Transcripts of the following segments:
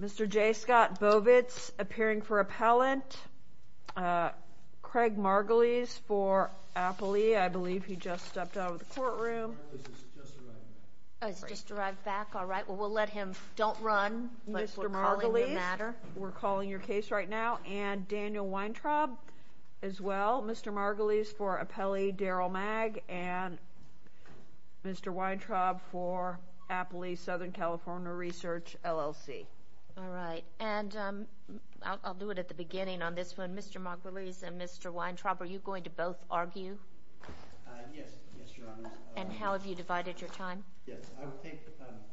Mr. J. Scott Bovitz, appearing for appellant, Craig Margulies for Appley, I believe he just stepped out of the courtroom. He's just arrived back. He's just arrived back. All right. Well, we'll let him. Don't run. Mr. Margulies. All right. All right. All right. All right. All right. All right. All right. All right. Mr. Bovitz, for your case right now, and Daniel Weintraub as well, Mr. Margulies for appellee, Darrell Magg. And Mr. Weintraub, for Appley Southern California Research, LLC. All right. And I'll do it at the beginning on this one. Mr. Margulies and Mr. Weintraub, are you going to both argue? Yes. Yes, Your Honors. And how have you divided your time? Yes, I would take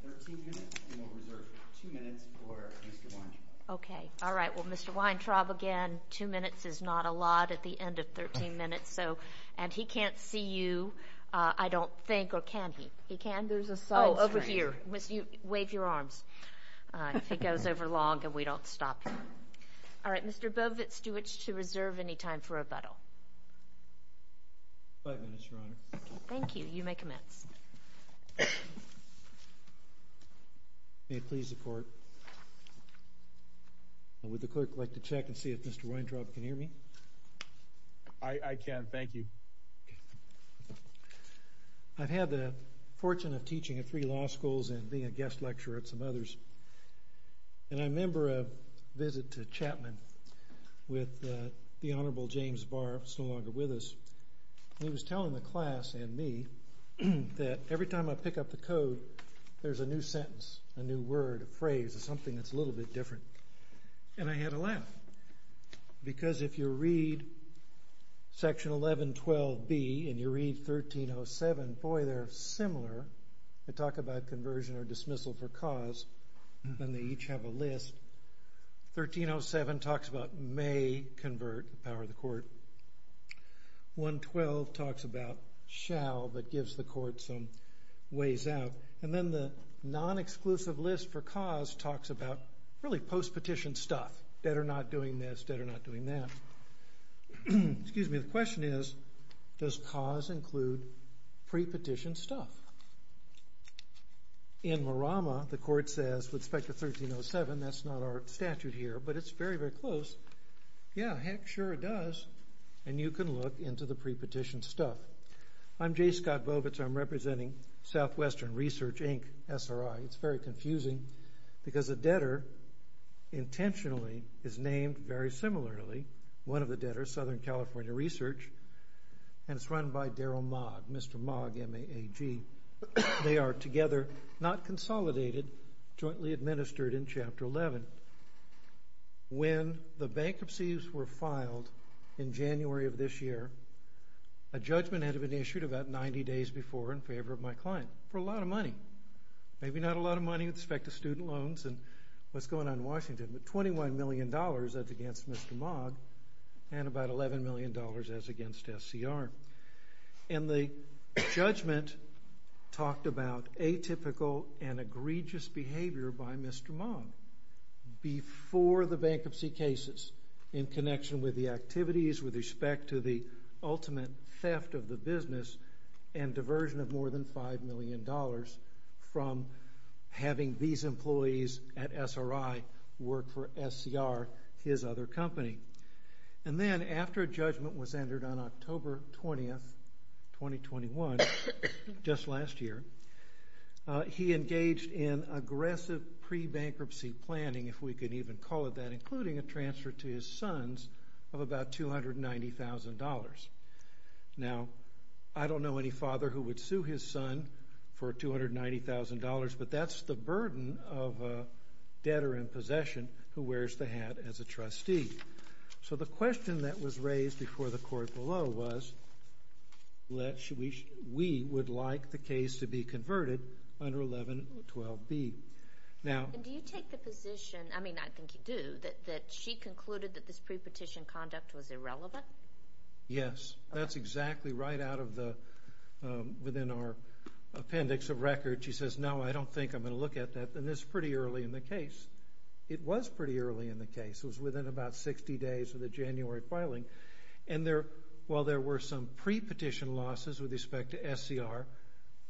13 minutes and I would reserve 2 minutes for Mr. Weintraub. Okay. All right. All right. Well, Mr. Weintraub, again, 2 minutes is not a lot at the end of 13 minutes, so. And he can't see you, I don't think, or can he? He can? There's a side screen. Oh, over here. Wave your arms. All right. If it goes over long and we don't stop. All right. Mr. Bovitz, do you wish to reserve any time for rebuttal? Five minutes, Your Honor. Thank you. You may commence. May it please the Court. Would the clerk like to check and see if Mr. Weintraub can hear me? I can. Thank you. I've had the fortune of teaching at three law schools and being a guest lecturer at some others. And I remember a visit to Chapman with the Honorable James Barr, who is no longer with us. And he was telling the class and me that every time I pick up the code, there's a new sentence, a new word, a phrase, something that's a little bit different. And I had a laugh. Because if you read Section 1112B and you read 1307, boy, they're similar. They talk about conversion or dismissal for cause, and they each have a list. 1307 talks about may convert, the power of the Court. 112 talks about shall, but gives the Court some ways out. And then the non-exclusive list for cause talks about really post-petition stuff. Dead or not doing this, dead or not doing that. Excuse me. The question is, does cause include pre-petition stuff? In Marama, the Court says, with respect to 1307, that's not our statute here. But it's very, very close. Yeah, heck sure it does. And you can look into the pre-petition stuff. I'm J. Scott Bovitz. I'm representing Southwestern Research, Inc., SRI. It's very confusing, because a debtor intentionally is named very similarly. One of the debtors, Southern California Research. And it's run by Daryl Mogg, Mr. Mogg, M-A-A-G. They are together, not consolidated, jointly administered in Chapter 11. When the bankruptcies were filed in January of this year, a judgment had been issued about 90 days before in favor of my client. For a lot of money. Maybe not a lot of money with respect to student loans and what's going on in Washington. But $21 million, that's against Mr. Mogg. And about $11 million, that's against SCR. And the judgment talked about atypical and egregious behavior by Mr. Mogg. Before the bankruptcy cases in connection with the activities with respect to the ultimate theft of the business and diversion of more than $5 million from having these employees at SRI work for SCR, his other company. And then, after a judgment was entered on October 20th, 2021, just last year, he engaged in aggressive pre-bankruptcy planning, if we could even call it that, including a transfer to his sons of about $290,000. Now, I don't know any father who would sue his son for $290,000, but that's the burden of a debtor in possession who wears the hat as a trustee. So the question that was raised before the court below was, we would like the case to be converted under 1112B. Now... And do you take the position, I mean, I think you do, that she concluded that this pre-petition conduct was irrelevant? Yes. That's exactly right out of the, within our appendix of record. She says, no, I don't think I'm going to look at that. And it's pretty early in the case. It was pretty early in the case. It was within about 60 days of the January filing. And while there were some pre-petition losses with respect to SCR,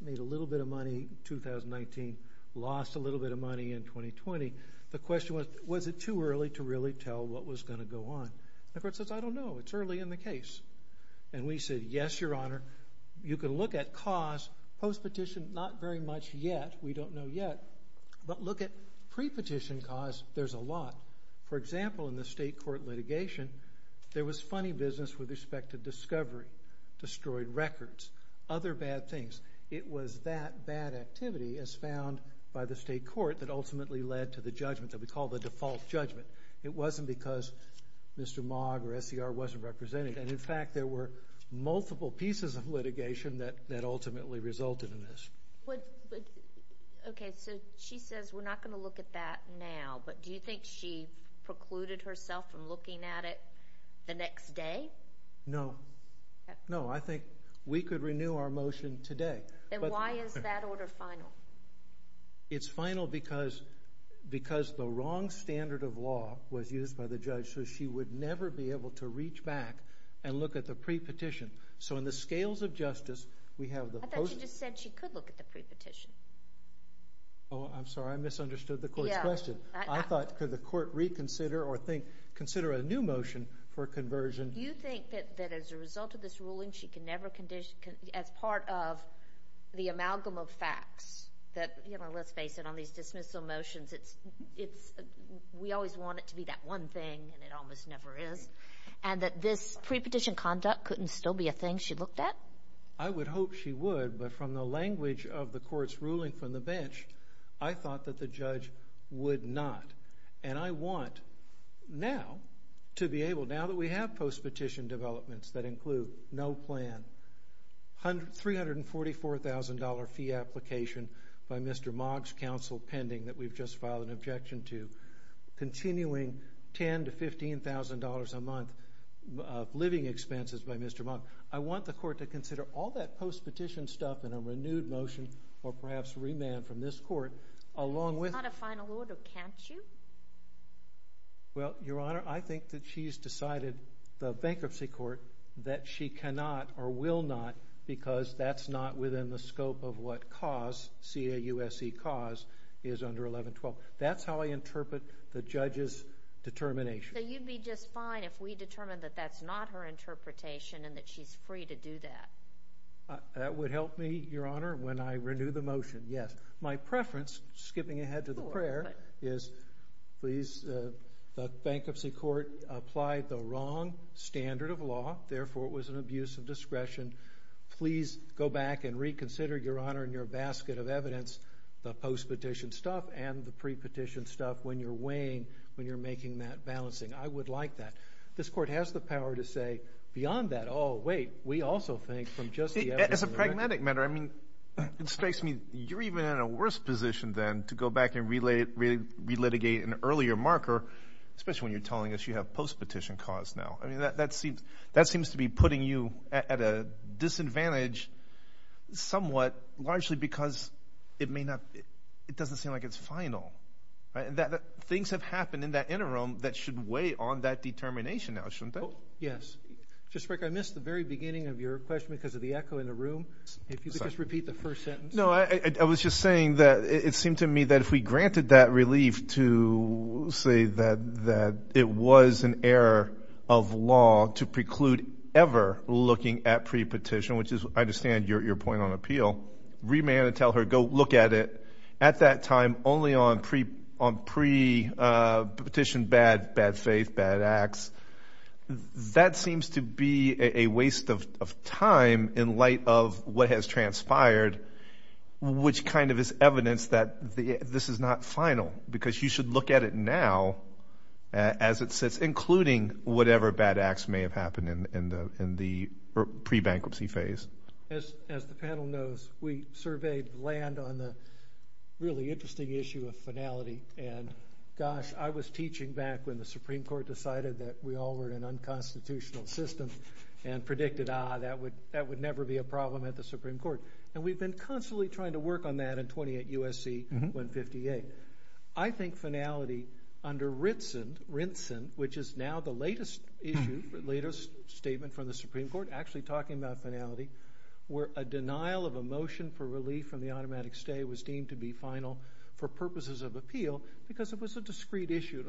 made a little bit of money in 2019, lost a little bit of money in 2020, the question was, was it too early to really tell what was going to go on? The court says, I don't know. It's early in the case. And we said, yes, Your Honor. You can look at cause post-petition, not very much yet. We don't know yet. But look at pre-petition cause. There's a lot. For example, in the state court litigation, there was funny business with respect to discovery, destroyed records, other bad things. It was that bad activity as found by the state court that ultimately led to the judgment that we call the default judgment. It wasn't because Mr. Mogg or SCR wasn't represented. And in fact, there were multiple pieces of litigation that ultimately resulted in this. Okay, so she says we're not going to look at that now. But do you think she precluded herself from looking at it the next day? No. No, I think we could renew our motion today. Then why is that order final? It's final because the wrong standard of law was used by the judge so she would never be able to reach back and look at the pre-petition. So in the scales of justice, we have the post- I thought you just said she could look at the pre-petition. Oh, I'm sorry. I misunderstood the court's question. I thought could the court reconsider or consider a new motion for conversion? Do you think that as a result of this ruling, she can never condition as part of the amalgam of facts that, you know, let's face it, on these dismissal motions, we always want it to be that one thing and it almost never is, and that this pre-petition conduct couldn't still be a thing she looked at? I would hope she would, but from the language of the court's ruling from the bench, I thought that the judge would not. And I want now to be able, now that we have post-petition developments that include no plan, $344,000 fee application by Mr. Mogg's counsel pending that we've just filed an objection to, continuing $10,000 to $15,000 a month of living expenses by Mr. Mogg, I want the court to consider all that post-petition stuff in a renewed motion or perhaps remand from this court along with... But this is not a final order, can't you? Well, Your Honor, I think that she's decided, the bankruptcy court, that she cannot or will not because that's not within the scope of what CAUSE, C-A-U-S-E, CAUSE is under 1112. That's how I interpret the judge's determination. So you'd be just fine if we determined that that's not her interpretation and that she's free to do that? That would help me, Your Honor, when I renew the motion, yes. My preference, skipping ahead to the prayer, is please, the bankruptcy court applied the wrong standard of law, therefore it was an abuse of discretion. Please go back and reconsider, Your Honor, in your basket of evidence, the post-petition stuff and the pre-petition stuff when you're weighing, when you're making that balancing. I would like that. This court has the power to say, beyond that, oh, wait, we also think from just the evidence. As a pragmatic matter, I mean, it strikes me, you're even in a worse position than to go back and relitigate an earlier marker, especially when you're telling us you have post-petition CAUSE now. I mean, that seems to be putting you at a disadvantage somewhat, largely because it may not, it doesn't seem like it's final. Things have happened in that interim that should weigh on that determination now, shouldn't they? Yes. Justice Breyer, I missed the very beginning of your question because of the echo in the room. If you could just repeat the first sentence. No, I was just saying that it seemed to me that if we granted that relief to say that it was an error of law to preclude ever looking at pre-petition, which is, I understand, your point on appeal, remand and tell her, go look at it, at that time, only on pre-petition, bad faith, bad acts, that seems to be a waste of time in light of what has transpired, which kind of is evidence that this is not final because you should look at it now as it sits, including whatever bad acts may have happened in the pre-bankruptcy phase. As the panel knows, we surveyed land on the really interesting issue of finality and gosh, I was teaching back when the Supreme Court decided that we all were in an unconstitutional system and predicted, ah, that would never be a problem at the Supreme Court. And we've been constantly trying to work on that in 28 U.S.C. 158. I think finality under Rinson, which is now the latest issue, latest statement from the Supreme Court, actually talking about finality, where a denial of a motion for relief from the automatic stay was deemed to be final for purposes of appeal because it was a discreet issue.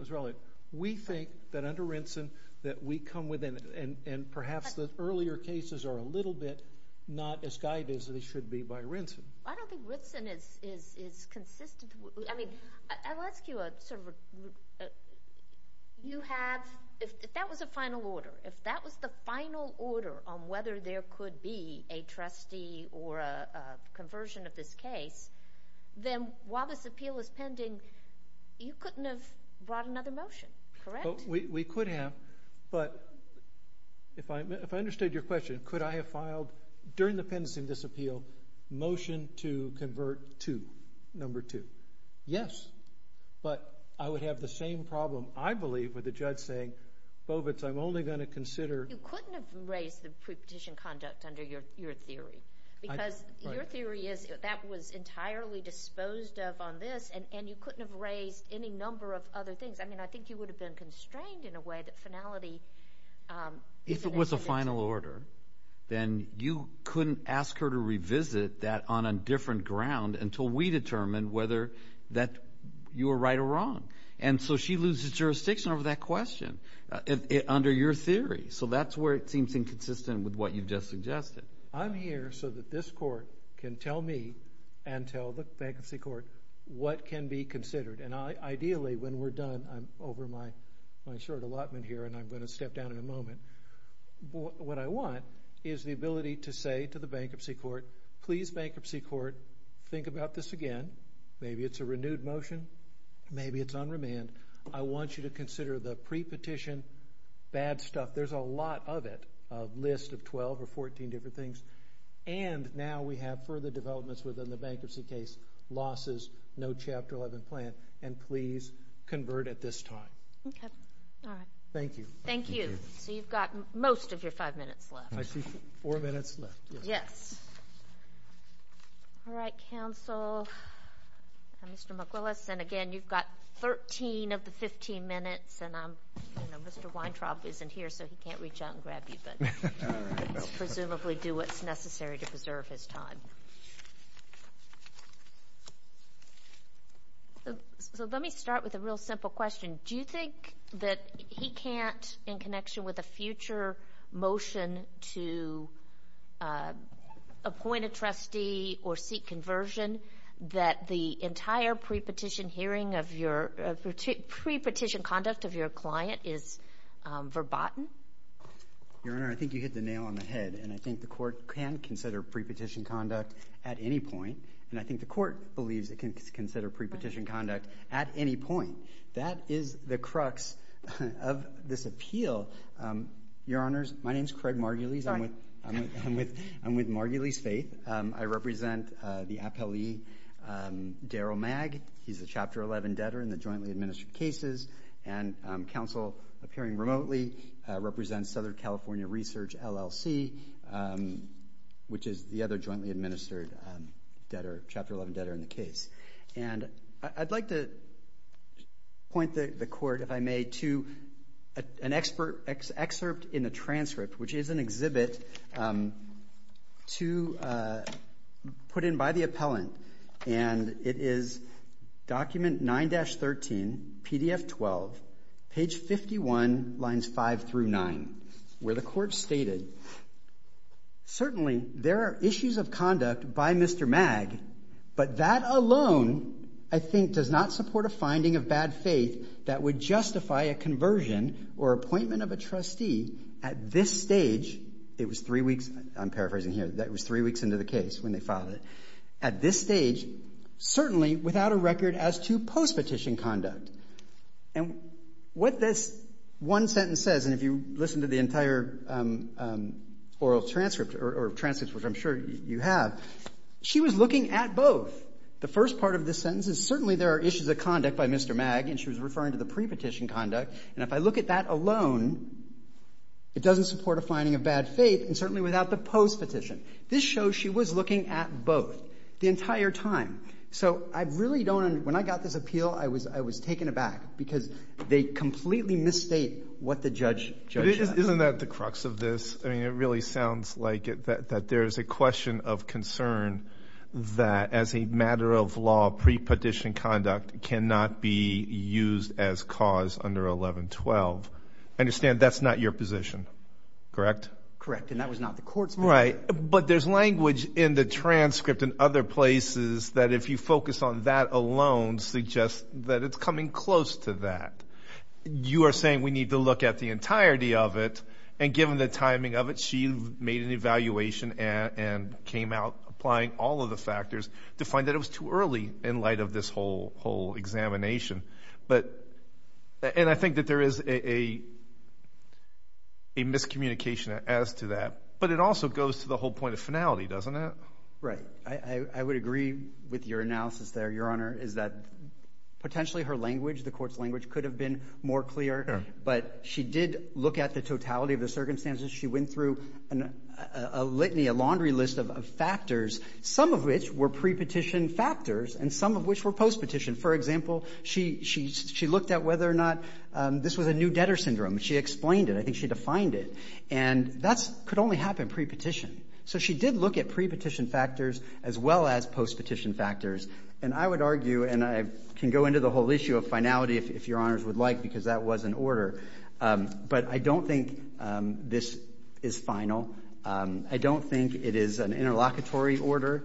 We think that under Rinson that we come within, and perhaps the earlier cases are a little bit not as guided as they should be by Rinson. I don't think Rinson is consistent. I mean, I'll ask you a sort of a, you have, if that was a final order, if that was the final order on whether there could be a trustee or a conversion of this case, then while this appeal is pending, you couldn't have brought another motion, correct? We could have, but if I understood your question, could I have filed, during the pendency of this appeal, motion to convert to number two? Yes, but I would have the same problem, I believe, with the judge saying, Bovitz, I'm only going to consider... You couldn't have raised the pre-petition conduct under your theory. Because your theory is that was entirely disposed of on this, and you couldn't have raised any number of other things. I mean, I think you would have been constrained in a way that finality... If it was a final order, then you couldn't ask her to revisit that on a different ground until we determined whether that you were right or wrong. And so she loses jurisdiction over that question under your theory. So that's where it seems inconsistent with what you just suggested. I'm here so that this Court can tell me, and tell the Bankruptcy Court, what can be considered. And ideally, when we're done, I'm over my short allotment here, and I'm going to step down in a moment. What I want is the ability to say to the Bankruptcy Court, please, Bankruptcy Court, think about this again. Maybe it's a renewed motion. Maybe it's on remand. I want you to consider the pre-petition bad stuff. There's a lot of it, a list of 12 or 14 different things. And now we have further developments within the bankruptcy case, losses, no Chapter 11 plan, and please convert at this time. Okay. All right. Thank you. Thank you. So you've got most of your five minutes left. I see four minutes left. Yes. All right, Counsel. Mr. McWillis, and again, you've got 13 of the 15 minutes, and Mr. Weintraub isn't here, so he can't reach out and grab you, but presumably do what's necessary to preserve his time. So let me start with a real simple question. Do you think that he can't, in connection with a future motion to appoint a trustee or seek conversion, that the entire pre-petition hearing of your pre-petition conduct of your client is verboten? Your Honor, I think you hit the nail on the head, and I think the Court can consider pre-petition conduct at any point, and I think the Court believes it can consider pre-petition conduct at any point. That is the crux of this appeal. Your Honors, my name's Craig Margulies. I'm with Margulies' faith. I represent the appellee Daryl Magg. He's a Chapter 11 debtor in the jointly administered cases, and Counsel, appearing remotely, represents Southern California Research, LLC, which is the other jointly administered debtor, Chapter 11 debtor in the case. And I'd like to point the Court, if I may, to an excerpt in the transcript, which is an exhibit to put in by the appellant, and it is Document 9-13, PDF 12, page 51, lines 5-9, where the Court stated, certainly there are issues of conduct by Mr. Magg, but that alone I think does not support a finding of bad faith that would justify a conversion or appointment of a trustee at this stage, it was three weeks I'm paraphrasing here, that was three weeks into the case when they filed it, at this stage, certainly without a record as to post-petition conduct. And what this one sentence says, and if you listen to the entire oral transcript, or transcripts, which I'm sure you have, she was looking at both. The first part of this sentence is, certainly there are issues of conduct by Mr. Magg, and she was referring to the pre-petition conduct, and if I look at that alone, it doesn't support a finding of bad faith, and certainly without the post-petition. This shows she was looking at both the entire time. So I really don't, when I got this appeal, I was taken aback because they completely misstate what the judge says. Isn't that the crux of this? I mean, it really sounds like it, that there's a question of concern that as a matter of law, pre-petition conduct cannot be used as cause under 1112. I understand that's not your position, correct? Correct, and that was not the court's view. But there's language in the transcript and other places that if you focus on that alone, suggests that it's coming close to that. You are saying we need to look at the entirety of it, and given the timing of it, she made an evaluation and came out applying all of the factors to find that it was too early in light of this whole examination. But, and I think that there is a miscommunication as to that, but it also goes to the whole point of finality, doesn't it? Right. I would agree with your analysis there, Your Honor, is that potentially her language, the court's language, could have been more clear, but she did look at the totality of the circumstances. She went through a litany, a laundry list of factors, some of which were pre-petition factors, and some of which were post-petition. For example, she looked at whether or not this was a new debtor syndrome. She explained it. I think she defined it. And that could only happen pre-petition. So she did look at pre-petition factors as well as post-petition factors, and I would argue, and I can go into the whole issue of finality if Your Honors would like, because that was an order. But I don't think this is final. I don't think it is an interlocutory order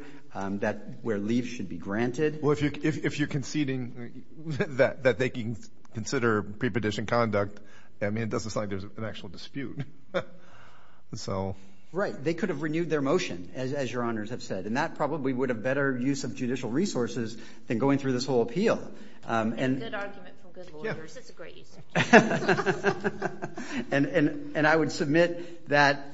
where leave should be granted. Well, if you're conceding that they can consider pre-petition conduct, I mean, it doesn't sound like there's an actual dispute. Right. They could have renewed their motion, as Your Honors have said, and that probably would have better use of judicial resources than going through this whole appeal. It's a good argument from good lawyers. It's a great use of judicial resources. And I would submit that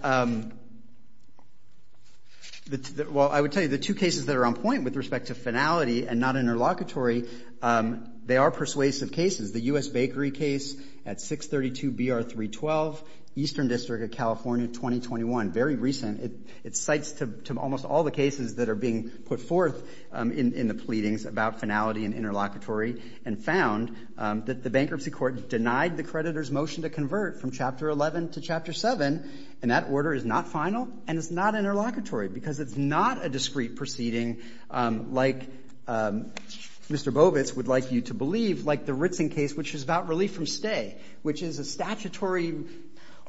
well, I would tell you the two cases that are on point with respect to finality and not interlocutory, they are persuasive cases. The U.S. Bakery case at 632 BR 312, Eastern District of California, 2021. Very recent. It cites to almost all the cases that are being put forth in the pleadings about finality and interlocutory, and found that the bankruptcy court denied the creditor's motion to convert from Chapter 11 to Chapter 7, and that order is not final and it's not interlocutory because it's not a discrete proceeding like Mr. Bovitz would like you to believe, like the Ritzing case, which is about relief from stay, which is a statutory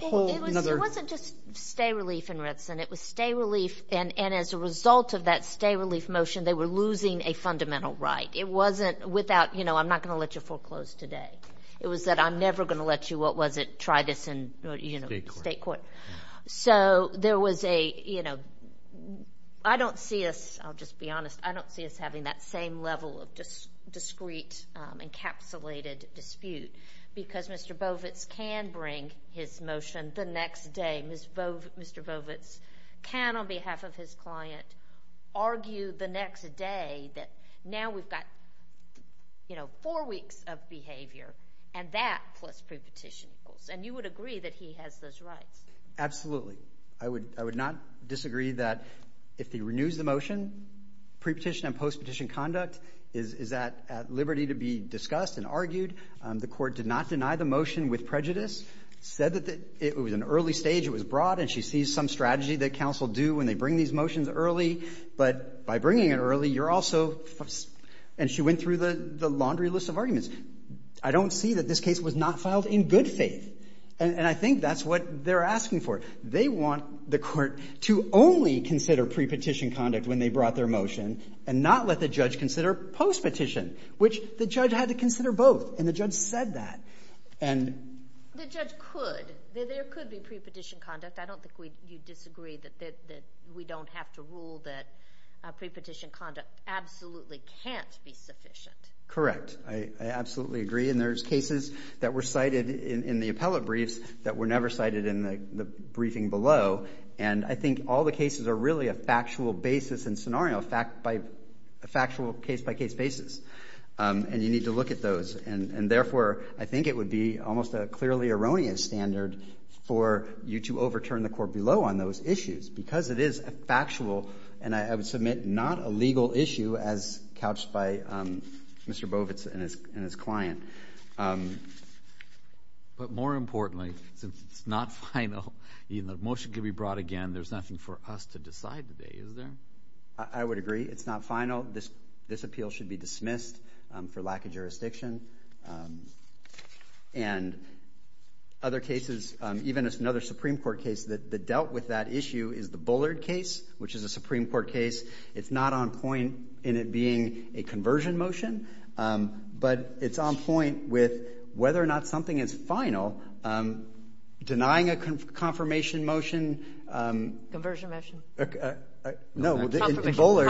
It wasn't just stay relief in Ritzing. It was stay relief, and as a result of that stay relief motion, they were losing a fundamental right. It wasn't without, you know, I'm not going to let you foreclose today. It was that I'm never going to let you, what was it, try this in state court. So there was a, you know, I don't see us, I'll just be honest, I don't see us having that same level of discrete encapsulated dispute because Mr. Bovitz can bring his motion the next day. Mr. Bovitz can, on behalf of his client, argue the next day that now we've got four weeks of behavior, and that plus pre-petition rules, and you would agree that he has those rights. Absolutely. I would not disagree that if he renews the motion, pre-petition and post-petition conduct is at liberty to be discussed and argued. The court did not deny the motion with prejudice, said that it was an early stage, it was broad, and she sees some strategy that counsel do when they bring these motions early, but by bringing it early, you're also and she went through the laundry list of arguments. I don't see that this case was not filed in good faith, and I think that's what they're asking for. They want the court to only consider pre-petition conduct when they brought their motion and not let the judge consider post-petition, which the judge had to consider both, and the judge said that. The judge could. There could be pre-petition conduct. I don't think you'd disagree that we don't have to rule that pre-petition conduct absolutely can't be sufficient. Correct. I absolutely agree, and there's cases that were cited in the appellate briefs that were never cited in the briefing below, and I think all the cases are really a factual case-by-case basis, and you need to look at those, and therefore, I think it would be almost a clearly erroneous standard for you to overturn the court below on those issues, because it is a factual, and I would submit not a legal issue, as couched by Mr. Bovitz and his client. But more importantly, since it's not final, even though the motion could be brought again, there's nothing for us to decide today, is there? I would agree. It's not final. This appeal should be dismissed for lack of jurisdiction, and other cases, even another Supreme Court case that dealt with that issue is the Bullard case, which is a Supreme Court case. It's not on point in it being a conversion motion, but it's on point with whether or not something is final. Denying a confirmation motion... In Bullard,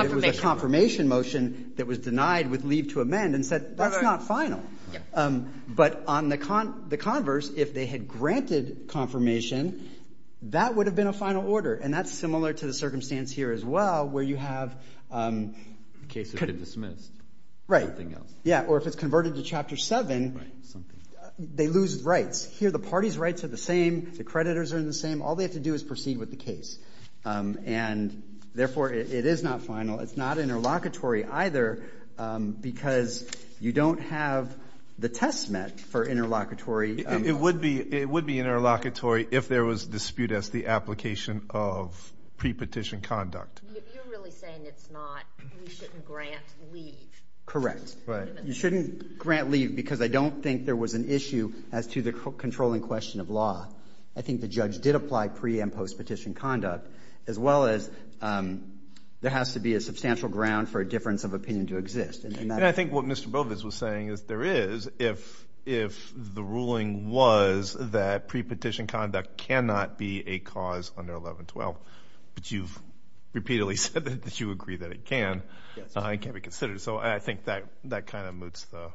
it was a confirmation motion that was denied with leave to amend and said, that's not final. But on the converse, if they had granted confirmation, that would have been a final order, and that's similar to the circumstance here as well, where you have cases that are dismissed. Right. Or if it's converted to Chapter 7, they lose rights. Here, the party's rights are the same, the creditors are in the same, all they have to do is proceed with the case. And therefore, it is not final. It's not interlocutory either, because you don't have the test met for interlocutory. It would be, it would be interlocutory if there was dispute as the application of pre-petition conduct. You're really saying it's not, you shouldn't grant leave. Correct. Right. You shouldn't grant leave because I don't think there was an issue as to the controlling question of law. I think the judge did apply pre- and post-petition conduct, as well as there has to be a substantial ground for a difference of opinion to exist. And I think what Mr. Bovis was saying is there is, if the ruling was that pre-petition conduct cannot be a cause under 1112, but you've repeatedly said that you agree that it can, it can be considered. So I think that kind of moots the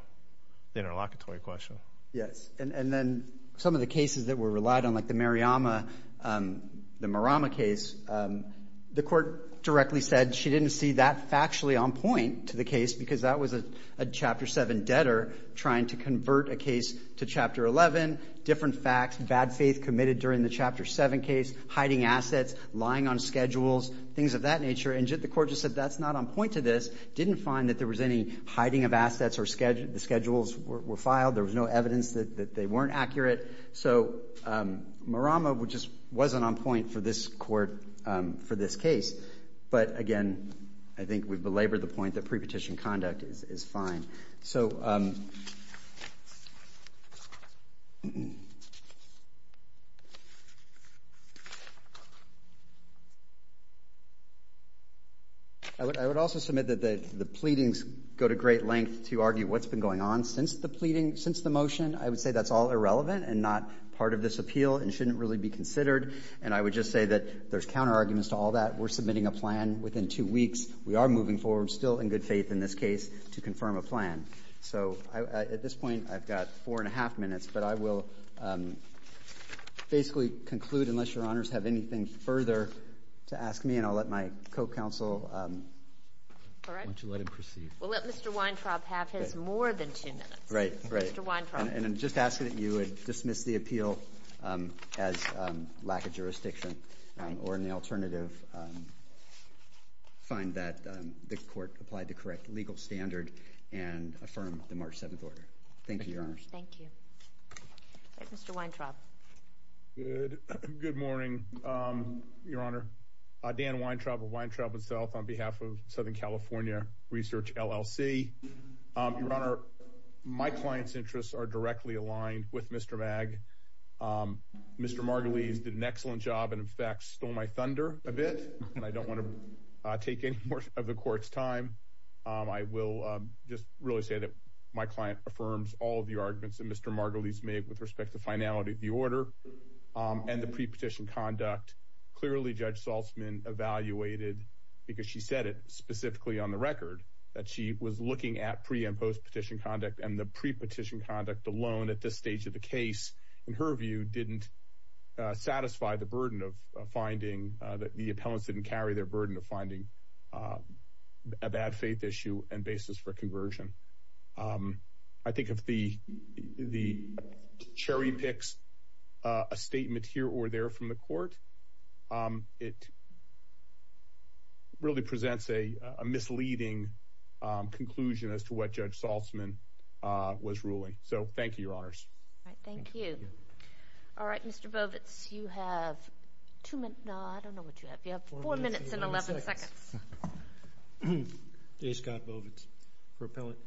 interlocutory question. Yes. And then some of the cases that were relied on, like the Mariama, the Marama case, the court directly said she didn't see that factually on point to the case because that was a Chapter 7 debtor trying to convert a case to Chapter 11, different facts, bad faith committed during the Chapter 7 case, hiding assets, lying on schedules, things of that nature. And the court just said that's not on point to this. Didn't find that there was any hiding of assets or schedules were filed. There was no evidence that they weren't accurate. So Mariama just wasn't on point for this court, for this case. But again, I think we've belabored the point that pre-petition conduct is fine. So I would also submit that the pleadings go to great length to argue what's been going on since the pleading, since the motion. I would say that's all irrelevant and not part of this appeal and shouldn't really be considered. And I would just say that there's counter arguments to all that. We're submitting a plan within two weeks. We are moving forward, still in good faith in this case, to confirm a plan. So at this point, I've got four and a half minutes, but I will basically conclude, unless your honors have anything further to ask me, and I'll let my co-counsel let him proceed. We'll let Mr. Weintraub have his more than two minutes. Right, right. And I'm just asking that you would dismiss the appeal as lack of jurisdiction or in the alternative find that the court applied the correct legal standard and affirm the March 7th order. Thank you, your honors. Thank you. Mr. Weintraub. Good morning, your honor. Dan Weintraub of Weintraub and South on behalf of Southern California Research, LLC. Your honor, my client's interests are directly aligned with Mr. Magg. Mr. Margulies did an excellent job and in fact stole my thunder a bit. I don't want to take any more of the court's time. I will just really say that my client affirms all of the arguments that Mr. Margulies made with respect to finality of the order and the pre-petition conduct. Clearly Judge Saltzman evaluated because she said it specifically on the record that she was looking at pre and post petition conduct and the pre-petition conduct alone at this stage of the case in her view didn't satisfy the burden of finding that the appellants didn't carry their burden of finding a bad faith issue and basis for conversion. I think if the cherry picks a statement here or there from the court it really presents a misleading conclusion as to what Judge Saltzman was ruling. Thank you, your honors. Alright, Mr. Bovitz, you have four minutes and eleven seconds. Jay Scott Bovitz for appellant.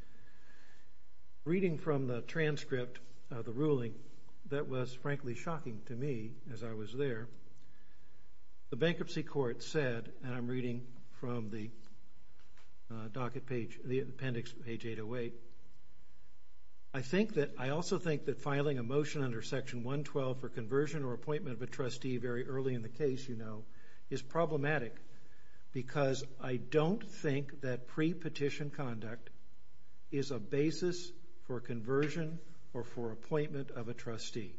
Reading from the transcript of the hearing, which was shocking to me as I was there, the bankruptcy court said and I'm reading from the docket page, the appendix page 808, I think that, I also think that filing a motion under section 112 for conversion or appointment of a trustee very early in the case, you know, is problematic because I don't think that pre-petition conduct is a basis for conversion or for appointment of a trustee.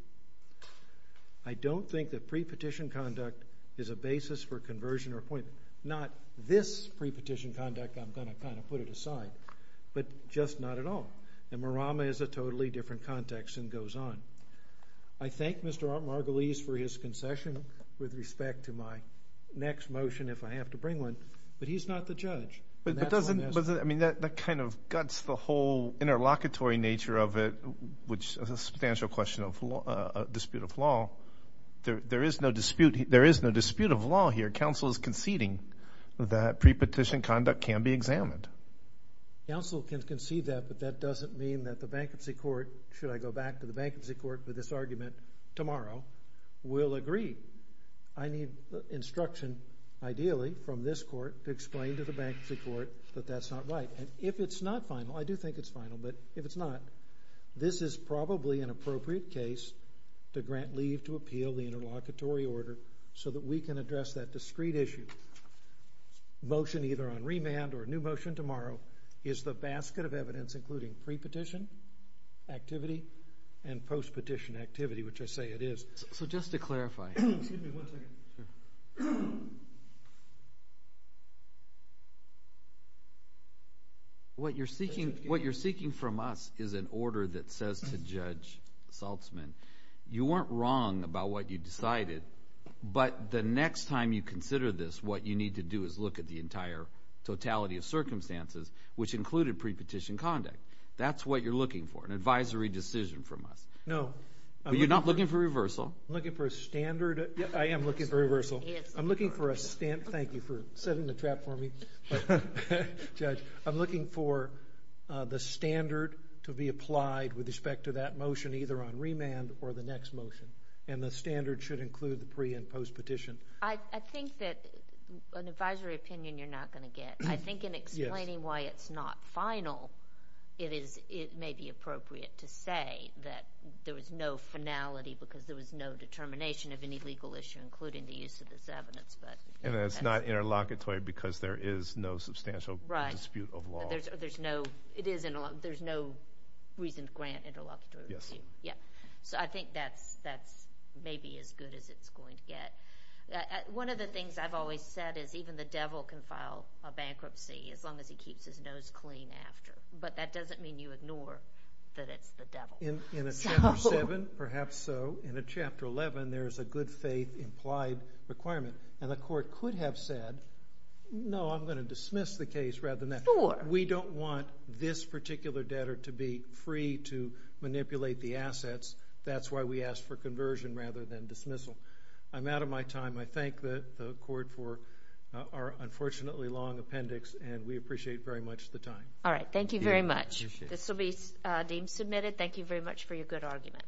I don't think that pre-petition conduct is a basis for conversion or appointment. Not this pre-petition conduct I'm going to kind of put it aside, but just not at all. And Marama is a totally different context and goes on. I thank Mr. Margulies for his concession with respect to my next motion if I have to bring one, but he's not the judge. I mean, that kind of guts the whole interlocutory nature of it which is a substantial question of dispute of law. There is no dispute of law here. Counsel is conceding that pre-petition conduct can be examined. Counsel can concede that, but that doesn't mean that the bankruptcy court, should I go back to the bankruptcy court for this argument tomorrow, will agree. I need instruction ideally from this court to explain to the bankruptcy court that that's not right. If it's not final, I do think it's final, but if it's not, this is probably an appropriate case to grant leave to appeal the interlocutory order so that we can address that discrete issue. Motion either on remand or a new motion tomorrow is the basket of evidence including pre-petition activity and post-petition activity, which I say it is. So just to clarify. What you're seeking from us is an order that says to Judge Saltzman, you weren't wrong about what you decided, but the next time you consider this, what you need to do is look at the entire totality of circumstances, which included pre-petition conduct. That's what you're looking for, an advisory decision from us. No. You're not looking for reversal. I'm looking for a standard. I am looking for reversal. I'm looking for a thank you for setting the trap for me. Judge, I'm looking for the standard to be applied with respect to that motion either on remand or the next motion. And the standard should include the pre- and post-petition. I think that an advisory opinion you're not going to get. I think in explaining why it's not final, it may be appropriate to say that there was no finality because there was no determination of any legal issue, including the use of this evidence. And it's not interlocutory because there is no substantial dispute of law. There's no reason to grant interlocutory review. So I think that's maybe as good as it's going to get. One of the things I've always said is even the devil can file a bankruptcy as long as he keeps his nose clean after. But that doesn't mean you ignore that it's the devil. In a Chapter 7, perhaps so. In a Chapter 11, there is a good faith implied requirement. And the Court could have said, no, I'm going to dismiss the case rather than that. We don't want this particular debtor to be free to manipulate the assets. That's why we ask for conversion rather than dismissal. I'm out of my time. I thank the Court for our unfortunately long appendix. And we appreciate very much the time. Alright. Thank you very much. This will be deemed submitted. Thank you very much for your good argument.